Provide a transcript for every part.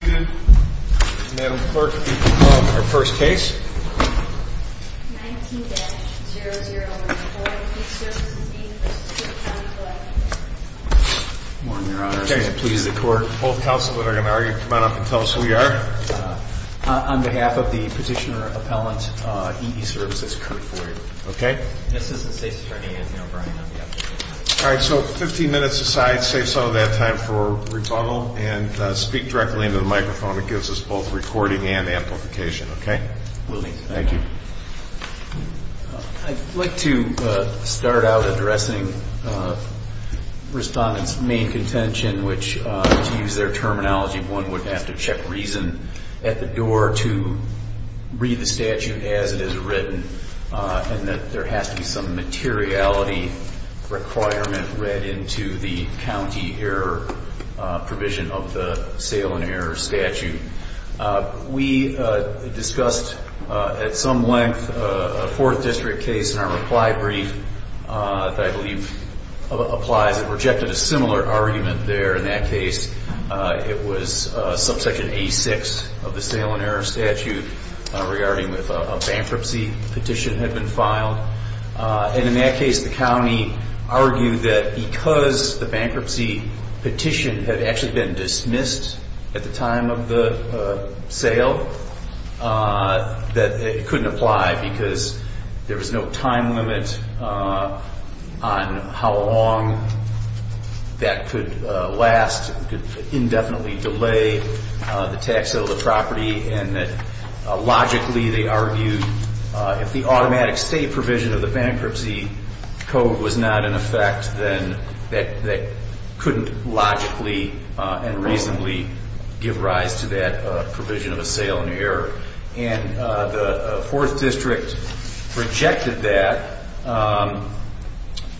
Madam Clerk, you can call up our first case. 19-001-4, Eeservices v. Cook County Collector Good morning, Your Honor. Please the Court. Both counselors are going to argue. Come on up and tell us who you are. On behalf of the Petitioner Appellant, Eeservices, Curt Floyd. Okay. This is the State's Attorney, Anthony O'Brien. Alright, so 15 minutes aside, save some of that time for rebuttal and speak directly into the microphone. It gives us both recording and amplification. Okay? Will do. Thank you. I'd like to start out addressing Respondent's main contention, which to use their terminology, one would have to check reason at the door to read the statute as it is written and that there has to be some materiality requirement read into the county error provision of the sale and error statute. We discussed at some length a Fourth District case in our reply brief that I believe applies. It rejected a similar argument there in that case. It was subsection A6 of the sale and error statute regarding a bankruptcy petition had been filed. And in that case, the county argued that because the bankruptcy petition had actually been dismissed at the time of the sale, that it couldn't apply because there was no time limit on how long that could last, could indefinitely delay the tax sale of the property, and that logically they argued if the automatic state provision of the bankruptcy code was not in effect, then that couldn't logically and reasonably give rise to that provision of a sale and error. And the Fourth District rejected that,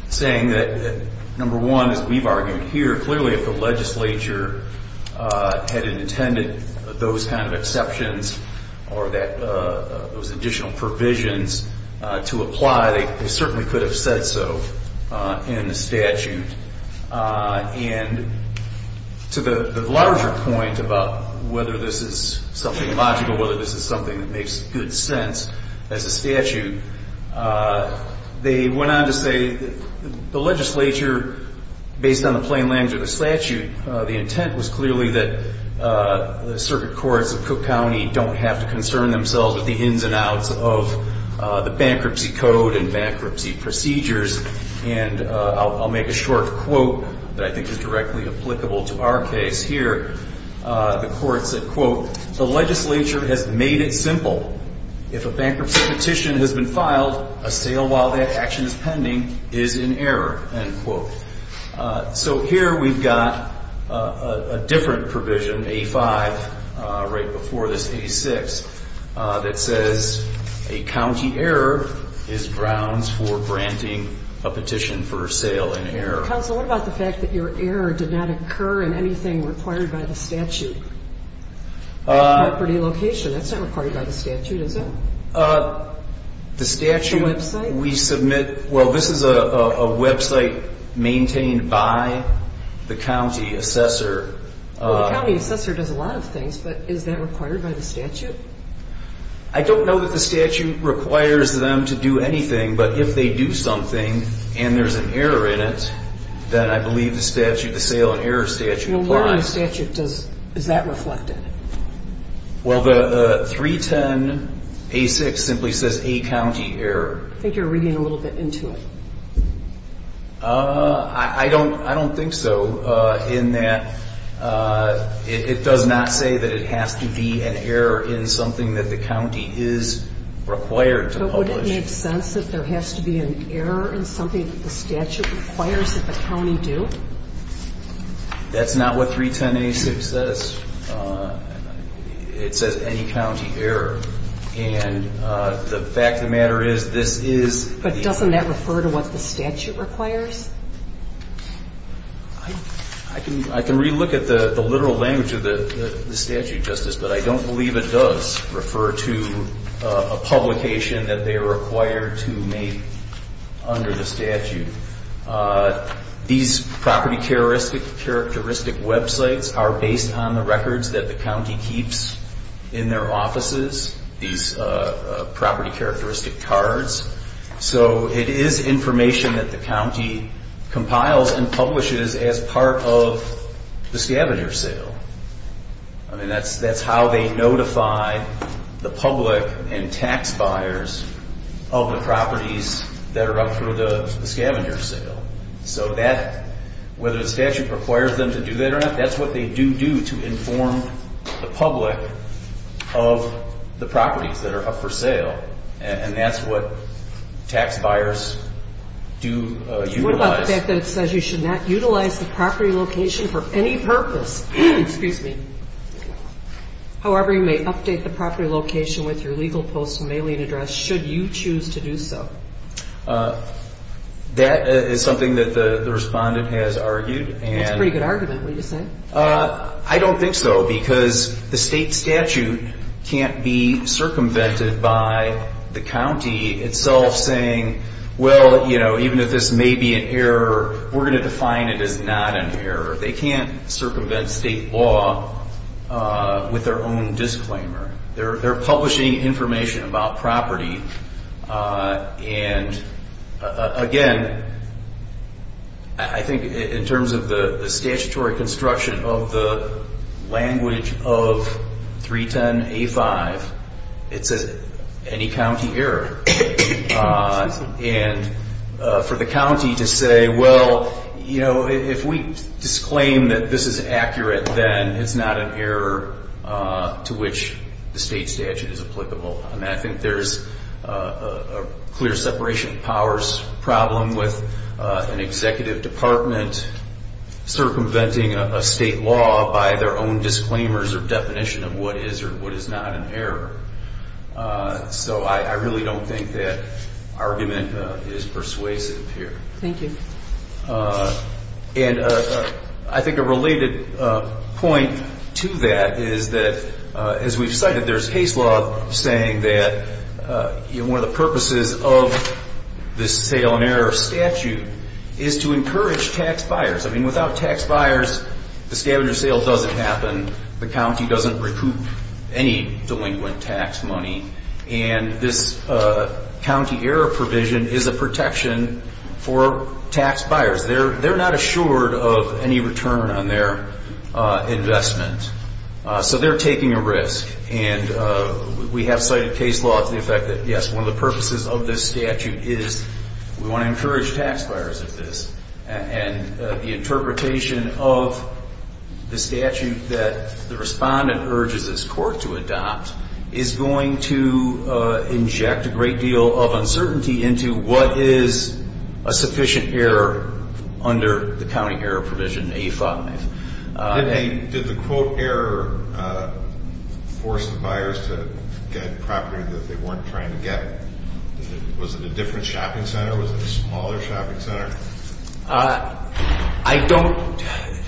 saying that, number one, as we've argued here, clearly if the legislature had intended those kind of exceptions or those additional provisions to apply, they certainly could have said so in the statute. And to the larger point about whether this is something logical, whether this is something that makes good sense as a statute, they went on to say the legislature, based on the plain language of the statute, the intent was clearly that the circuit courts of Cook County don't have to concern themselves with the ins and outs of the bankruptcy code and bankruptcy procedures. And I'll make a short quote that I think is directly applicable to our case here. The court said, quote, the legislature has made it simple. If a bankruptcy petition has been filed, a sale while that action is pending is in error, end quote. So here we've got a different provision, A-5, right before this A-6, that says a county error is grounds for granting a petition for sale in error. Counsel, what about the fact that your error did not occur in anything required by the statute? Property location, that's not required by the statute, is it? The statute, we submit, well, this is a website maintained by the county assessor. Well, the county assessor does a lot of things, but is that required by the statute? I don't know that the statute requires them to do anything, but if they do something and there's an error in it, then I believe the statute, the sale in error statute applies. Well, what in the statute does, is that reflected? Well, the 310-A-6 simply says a county error. I think you're reading a little bit into it. I don't think so, in that it does not say that it has to be an error in something that the county is required to publish. But would it make sense that there has to be an error in something that the statute requires that the county do? That's not what 310-A-6 says. It says any county error. And the fact of the matter is, this is... But doesn't that refer to what the statute requires? I can re-look at the literal language of the statute, Justice, but I don't believe it does refer to a publication that they are required to make under the statute. These property characteristic websites are based on the records that the county keeps in their offices, these property characteristic cards. So it is information that the county compiles and publishes as part of the scavenger sale. I mean, that's how they notify the public and tax buyers of the properties that are up for the scavenger sale. So whether the statute requires them to do that or not, that's what they do do to inform the public of the properties that are up for sale. And that's what tax buyers do utilize. The fact that it says you should not utilize the property location for any purpose. Excuse me. However, you may update the property location with your legal post and mailing address should you choose to do so. That is something that the respondent has argued. That's a pretty good argument. What do you say? I don't think so, because the state statute can't be circumvented by the county itself saying, well, you know, even if this may be an error, we're going to define it as not an error. They can't circumvent state law with their own disclaimer. They're publishing information about property. And, again, I think in terms of the statutory construction of the language of 310A5, it says any county error. And for the county to say, well, you know, if we disclaim that this is accurate, then it's not an error to which the state statute is applicable. And I think there's a clear separation of powers problem with an executive department circumventing a state law by their own disclaimers or definition of what is or what is not an error. So I really don't think that argument is persuasive here. Thank you. And I think a related point to that is that, as we've cited, there's case law saying that one of the purposes of the sale and error statute is to encourage tax buyers. I mean, without tax buyers, the scavenger sale doesn't happen. The county doesn't recoup any delinquent tax money. And this county error provision is a protection for tax buyers. They're not assured of any return on their investment. So they're taking a risk. And we have cited case law to the effect that, yes, one of the purposes of this statute is we want to encourage tax buyers of this. And the interpretation of the statute that the respondent urges his court to adopt is going to inject a great deal of uncertainty into what is a sufficient error under the county error provision, A-5. Did the quote error force the buyers to get property that they weren't trying to get? Was it a different shopping center? Was it a smaller shopping center? I don't ‑‑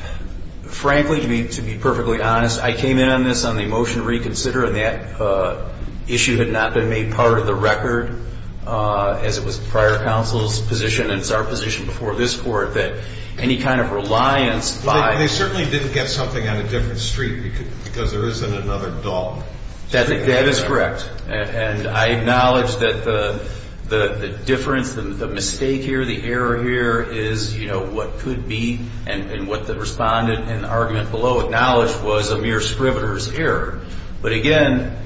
frankly, to be perfectly honest, I came in on this on the motion to reconsider, and that issue had not been made part of the record as it was prior counsel's position, and it's our position before this court, that any kind of reliance by ‑‑ They certainly didn't get something on a different street because there isn't another dog. That is correct. And I acknowledge that the difference, the mistake here, the error here is, you know, what could be and what the respondent in the argument below acknowledged was a mere scrivener's error. But, again,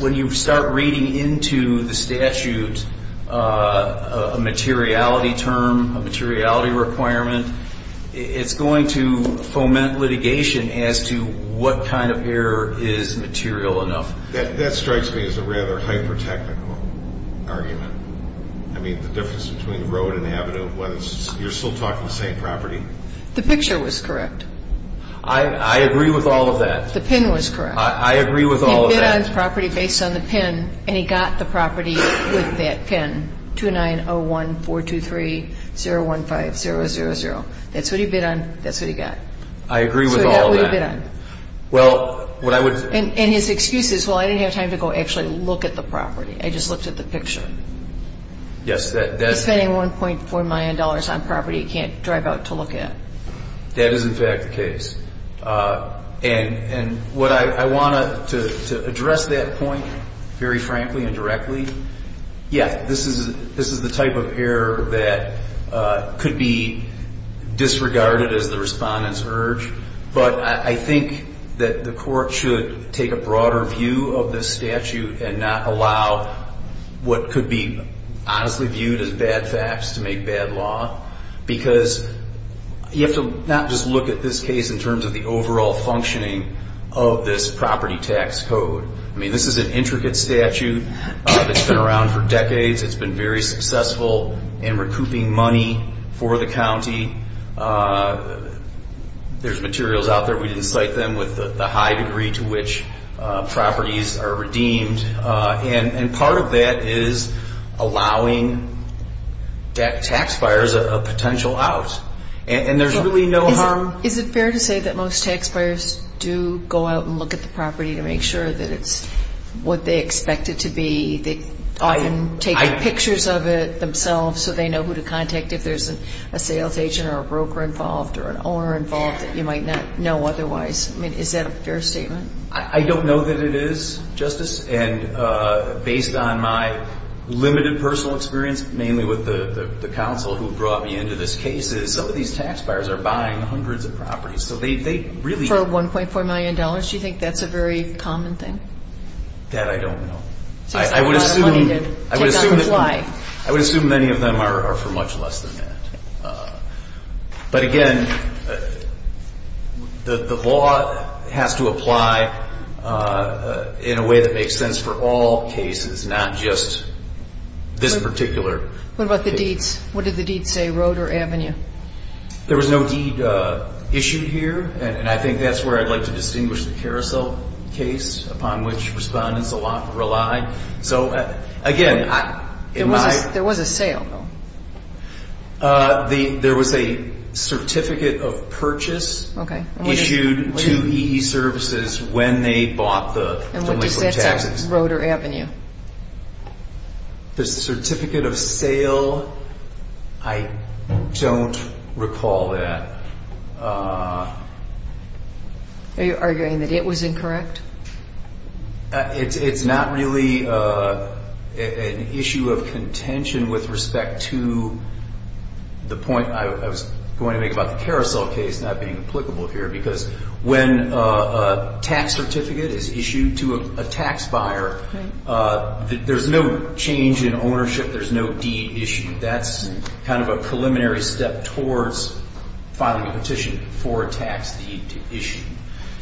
when you start reading into the statute a materiality term, a materiality requirement, it's going to foment litigation as to what kind of error is material enough. That strikes me as a rather hyper‑technical argument. I mean, the difference between road and avenue, whether you're still talking the same property. The picture was correct. I agree with all of that. The pin was correct. I agree with all of that. He bid on his property based on the pin, and he got the property with that pin, 2901423015000. That's what he bid on. That's what he got. I agree with all of that. So that's what he bid on. Well, what I would say. And his excuse is, well, I didn't have time to go actually look at the property. I just looked at the picture. Yes. He's spending $1.4 million on property he can't drive out to look at. That is, in fact, the case. And what I want to address that point very frankly and directly, yeah, this is the type of error that could be disregarded as the respondent's urge. But I think that the court should take a broader view of this statute and not allow what could be honestly viewed as bad facts to make bad law. Because you have to not just look at this case in terms of the overall functioning of this property tax code. I mean, this is an intricate statute. It's been around for decades. It's been very successful in recouping money for the county. There's materials out there. We didn't cite them with the high degree to which properties are redeemed. And part of that is allowing taxpayers a potential out. And there's really no harm. Is it fair to say that most taxpayers do go out and look at the property to make sure that it's what they expect it to be? They often take pictures of it themselves so they know who to contact if there's a sales agent or a broker involved or an owner involved that you might not know otherwise. I mean, is that a fair statement? I don't know that it is, Justice. And based on my limited personal experience, mainly with the counsel who brought me into this case, is some of these taxpayers are buying hundreds of properties. For $1.4 million, do you think that's a very common thing? That I don't know. I would assume many of them are for much less than that. But, again, the law has to apply in a way that makes sense for all cases, not just this particular case. What about the deeds? What did the deeds say, road or avenue? There was no deed issued here, and I think that's where I'd like to distinguish the carousel case upon which respondents a lot rely. So, again, in my... There was a sale, though. There was a certificate of purchase issued to E.E. Services when they bought the... The certificate of sale, I don't recall that. Are you arguing that it was incorrect? It's not really an issue of contention with respect to the point I was going to make about the carousel case because when a tax certificate is issued to a tax buyer, there's no change in ownership. There's no deed issued. That's kind of a preliminary step towards filing a petition for a tax deed to issue.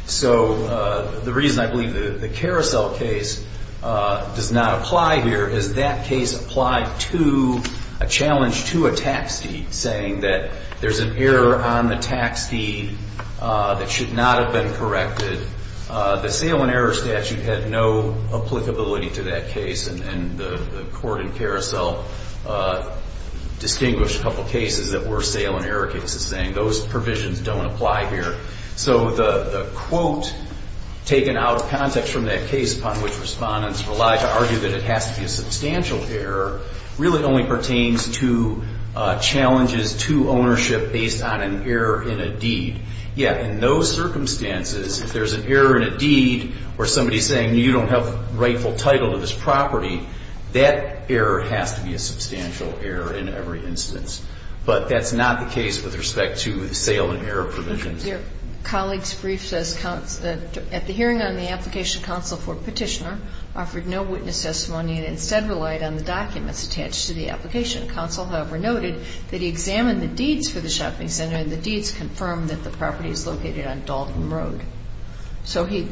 So the reason I believe the carousel case does not apply here is that case applied to a challenge to a tax deed, saying that there's an error on the tax deed that should not have been corrected. The sale and error statute had no applicability to that case, and the court in carousel distinguished a couple cases that were sale and error cases, saying those provisions don't apply here. So the quote taken out of context from that case upon which respondents rely to argue that it has to be a substantial error really only pertains to challenges to ownership based on an error in a deed. Yeah, in those circumstances, if there's an error in a deed or somebody's saying you don't have rightful title to this property, that error has to be a substantial error in every instance. But that's not the case with respect to the sale and error provisions. Your colleague's brief says at the hearing on the application counsel for petitioner offered no witness testimony and instead relied on the documents attached to the application. Counsel, however, noted that he examined the deeds for the shopping center, and the deeds confirmed that the property is located on Dalton Road. So he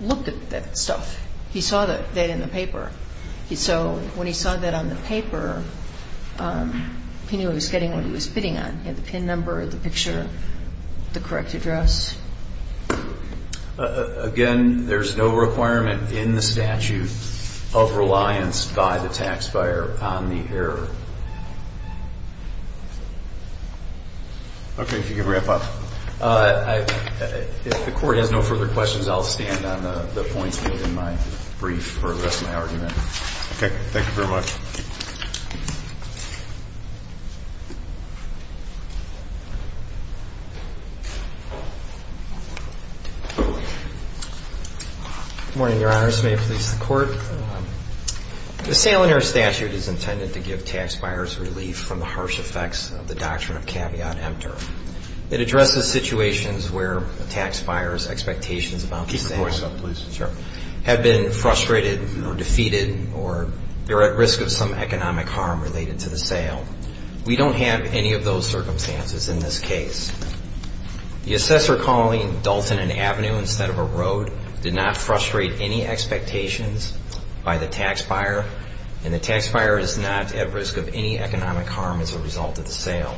looked at that stuff. He saw that in the paper. So when he saw that on the paper, he knew he was getting what he was bidding on, the PIN number, the picture, the correct address. Again, there's no requirement in the statute of reliance by the taxpayer on the error. Okay. If you could wrap up. If the Court has no further questions, I'll stand on the points made in my brief for the rest of my argument. Okay. Thank you very much. Good morning, Your Honors. May it please the Court. Good morning. The sale and error statute is intended to give taxpayers relief from the harsh effects of the doctrine of caveat emptor. It addresses situations where a taxpayer's expectations about the sale have been frustrated or defeated or they're at risk of some economic harm related to the sale. We don't have any of those circumstances in this case. The assessor calling Dalton and Avenue instead of a road did not frustrate any expectations by the taxpayer, and the taxpayer is not at risk of any economic harm as a result of the sale.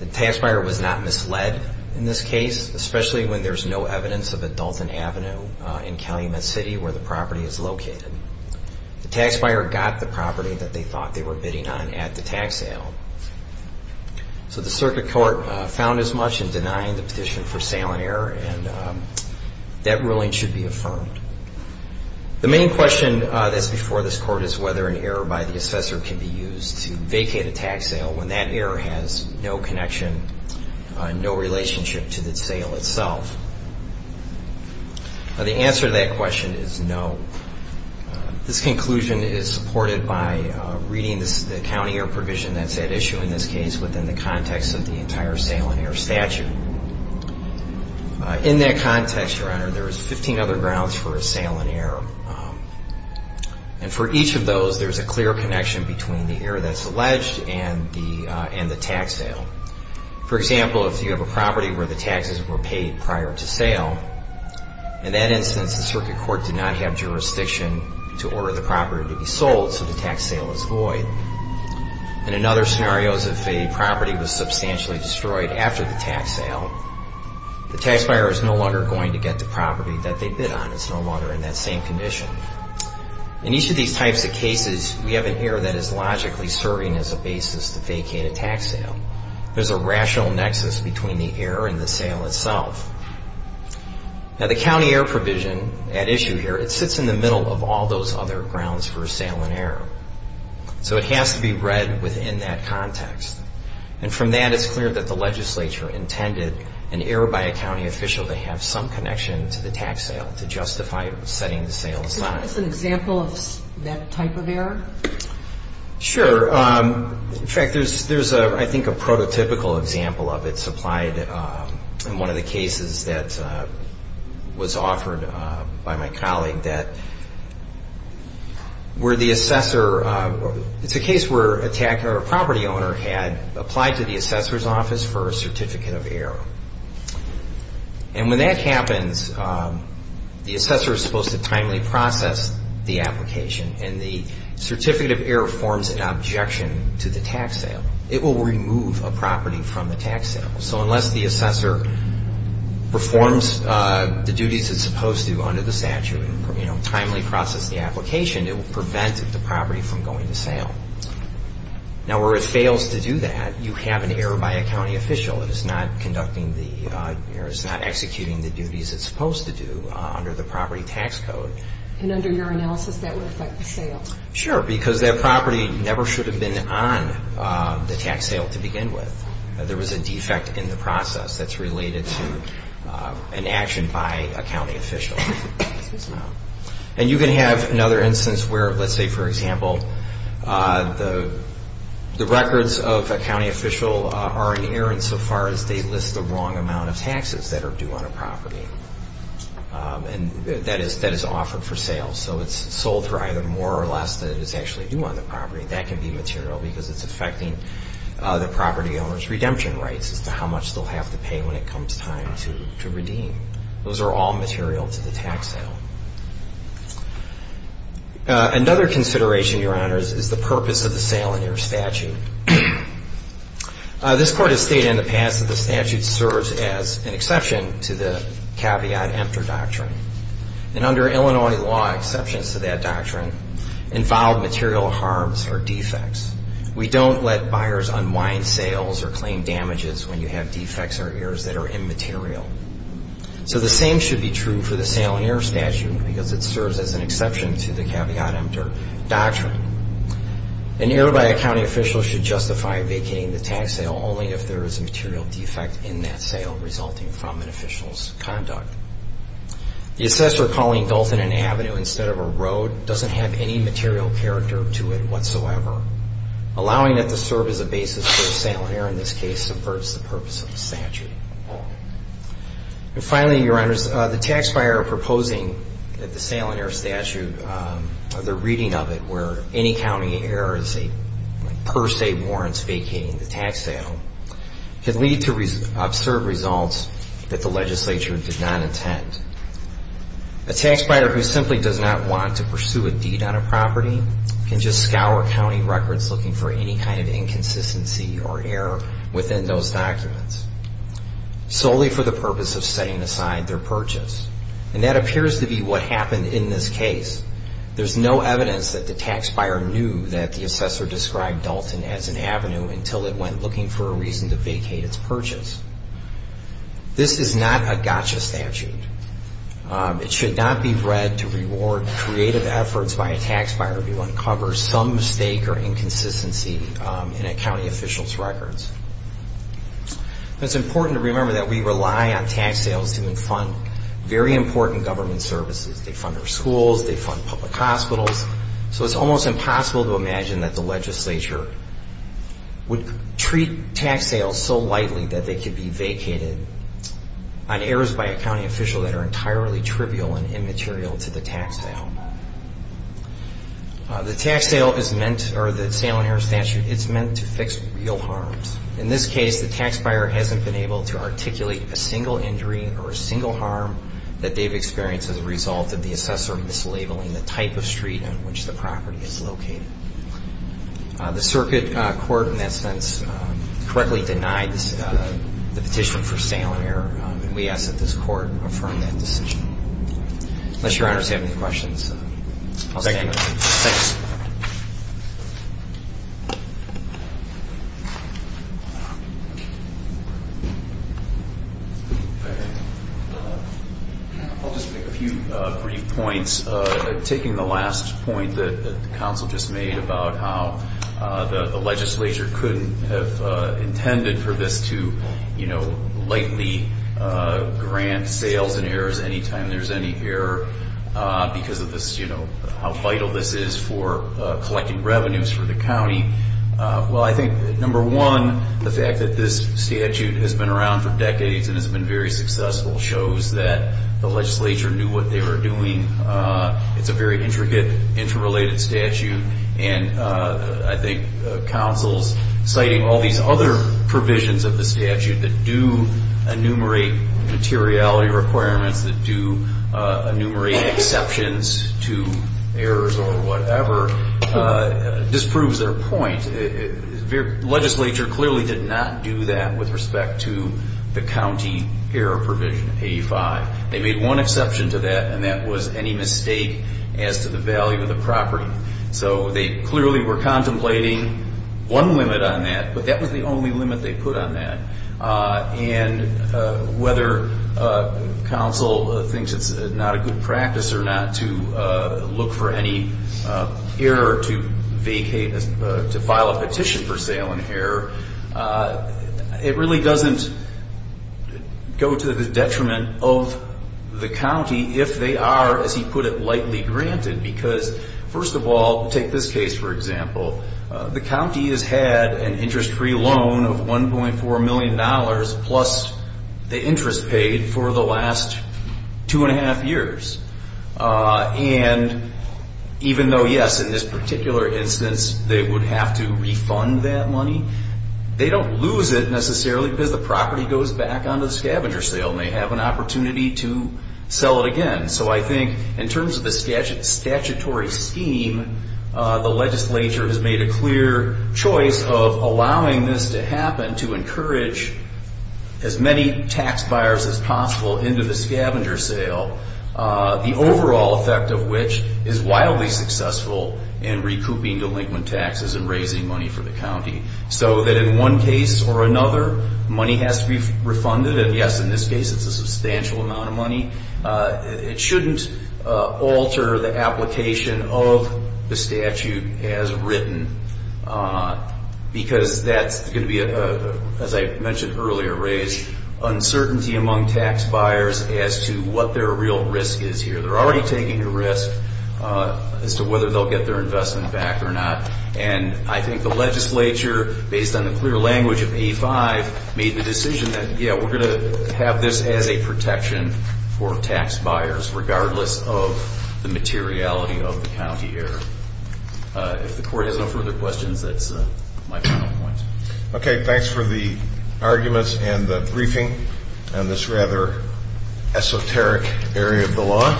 The taxpayer was not misled in this case, especially when there's no evidence of a Dalton Avenue in Calumet City where the property is located. The taxpayer got the property that they thought they were bidding on at the tax sale. So the circuit court found as much in denying the petition for sale and error, and that ruling should be affirmed. The main question that's before this Court is whether an error by the assessor can be used to vacate a tax sale when that error has no connection, no relationship to the sale itself. The answer to that question is no. This conclusion is supported by reading the county error provision that's at issue in this case within the context of the entire sale and error statute. In that context, Your Honor, there's 15 other grounds for a sale and error. And for each of those, there's a clear connection between the error that's alleged and the tax sale. For example, if you have a property where the taxes were paid prior to sale, in that instance, the circuit court did not have jurisdiction to order the property to be sold, so the tax sale is void. And in other scenarios, if a property was substantially destroyed after the tax sale, the taxpayer is no longer going to get the property that they bid on. It's no longer in that same condition. In each of these types of cases, we have an error that is logically serving as a basis to vacate a tax sale. There's a rational nexus between the error and the sale itself. Now, the county error provision at issue here, it sits in the middle of all those other grounds for a sale and error. So it has to be read within that context. And from that, it's clear that the legislature intended an error by a county official to have some connection to the tax sale to justify setting the sale aside. Sure. In fact, there's, I think, a prototypical example of it supplied in one of the cases that was offered by my colleague that where the assessor... It's a case where a property owner had applied to the assessor's office for a certificate of error. And when that happens, the assessor is supposed to timely process the application and the certificate of error forms an objection to the tax sale. It will remove a property from the tax sale. So unless the assessor performs the duties it's supposed to under the statute, you know, timely process the application, it will prevent the property from going to sale. Now, where it fails to do that, you have an error by a county official. It is not conducting the error. It's not executing the duties it's supposed to do under the property tax code. And under your analysis, that would affect the sale? Sure, because that property never should have been on the tax sale to begin with. There was a defect in the process that's related to an action by a county official. And you can have another instance where, let's say, for example, the records of a county official are inerrant so far as they list the wrong amount of taxes that are due on a property. And that is offered for sale. So it's sold for either more or less than it is actually due on the property. That can be material because it's affecting the property owner's redemption rights as to how much they'll have to pay when it comes time to redeem. Those are all material to the tax sale. Another consideration, Your Honors, is the purpose of the sale in your statute. This Court has stated in the past that the statute serves as an exception to the caveat emptor doctrine. And under Illinois law, exceptions to that doctrine involve material harms or defects. We don't let buyers unwind sales or claim damages when you have defects or errors that are immaterial. So the same should be true for the sale in error statute because it serves as an exception to the caveat emptor doctrine. An error by a county official should justify vacating the tax sale only if there is a material defect in that sale resulting from an official's conduct. The assessor calling Dalton an avenue instead of a road doesn't have any material character to it whatsoever. Allowing it to serve as a basis for a sale in error in this case subverts the purpose of the statute. And finally, Your Honors, the tax buyer proposing that the sale in error statute, the reading of it where any county error is a per se warrant vacating the tax sale, can lead to absurd results that the legislature did not intend. A tax buyer who simply does not want to pursue a deed on a property can just scour county records looking for any kind of inconsistency or error within those documents solely for the purpose of setting aside their purchase. And that appears to be what happened in this case. There's no evidence that the tax buyer knew that the assessor described Dalton as an avenue until it went looking for a reason to vacate its purchase. This is not a gotcha statute. It should not be read to reward creative efforts by a tax buyer to uncover some mistake or inconsistency in a county official's records. It's important to remember that we rely on tax sales to fund very important government services. They fund our schools. They fund public hospitals. So it's almost impossible to imagine that the legislature would treat tax sales so lightly that they could be vacated on errors by a county official that are entirely trivial and immaterial to the tax sale. The tax sale is meant, or the sale and error statute, it's meant to fix real harms. In this case, the tax buyer hasn't been able to articulate a single injury or a single harm that they've experienced as a result of the assessor mislabeling the type of street on which the property is located. The circuit court, in that sense, correctly denied the petition for sale and error, and we ask that this court affirm that decision. Unless Your Honor has any questions, I'll stand. Thanks. I'll just make a few brief points. Taking the last point that the counsel just made about how the legislature couldn't have intended for this to lightly grant sales and errors any time there's any error because of how vital this is for collecting revenues for the county. Well, I think, number one, the fact that this statute has been around for decades and has been very successful shows that the legislature knew what they were doing. It's a very intricate, interrelated statute, and I think counsel's citing all these other provisions of the statute that do enumerate materiality requirements, that do enumerate exceptions to errors or whatever, disproves their point. The legislature clearly did not do that with respect to the county error provision, 85. They made one exception to that, and that was any mistake as to the value of the property. So they clearly were contemplating one limit on that, but that was the only limit they put on that. And whether counsel thinks it's not a good practice or not to look for any error to file a petition for sale and error, it really doesn't go to the detriment of the county if they are, as he put it, lightly granted because, first of all, take this case, for example, the county has had an interest-free loan of $1.4 million plus the interest paid for the last two and a half years. And even though, yes, in this particular instance they would have to refund that money, they don't lose it necessarily because the property goes back onto the scavenger sale and they have an opportunity to sell it again. So I think in terms of the statutory scheme, the legislature has made a clear choice of allowing this to happen to encourage as many tax buyers as possible into the scavenger sale, the overall effect of which is wildly successful in recouping delinquent taxes and raising money for the county. So that in one case or another, money has to be refunded. And, yes, in this case it's a substantial amount of money. It shouldn't alter the application of the statute as written because that's going to be, as I mentioned earlier, raise uncertainty among tax buyers as to what their real risk is here. They're already taking a risk as to whether they'll get their investment back or not. And I think the legislature, based on the clear language of A5, made the decision that, yes, we're going to have this as a protection for tax buyers regardless of the materiality of the county here. If the court has no further questions, that's my final point. Okay, thanks for the arguments and the briefing on this rather esoteric area of the law.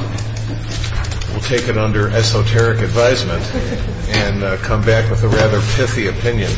We'll take it under esoteric advisement and come back with a rather pithy opinion.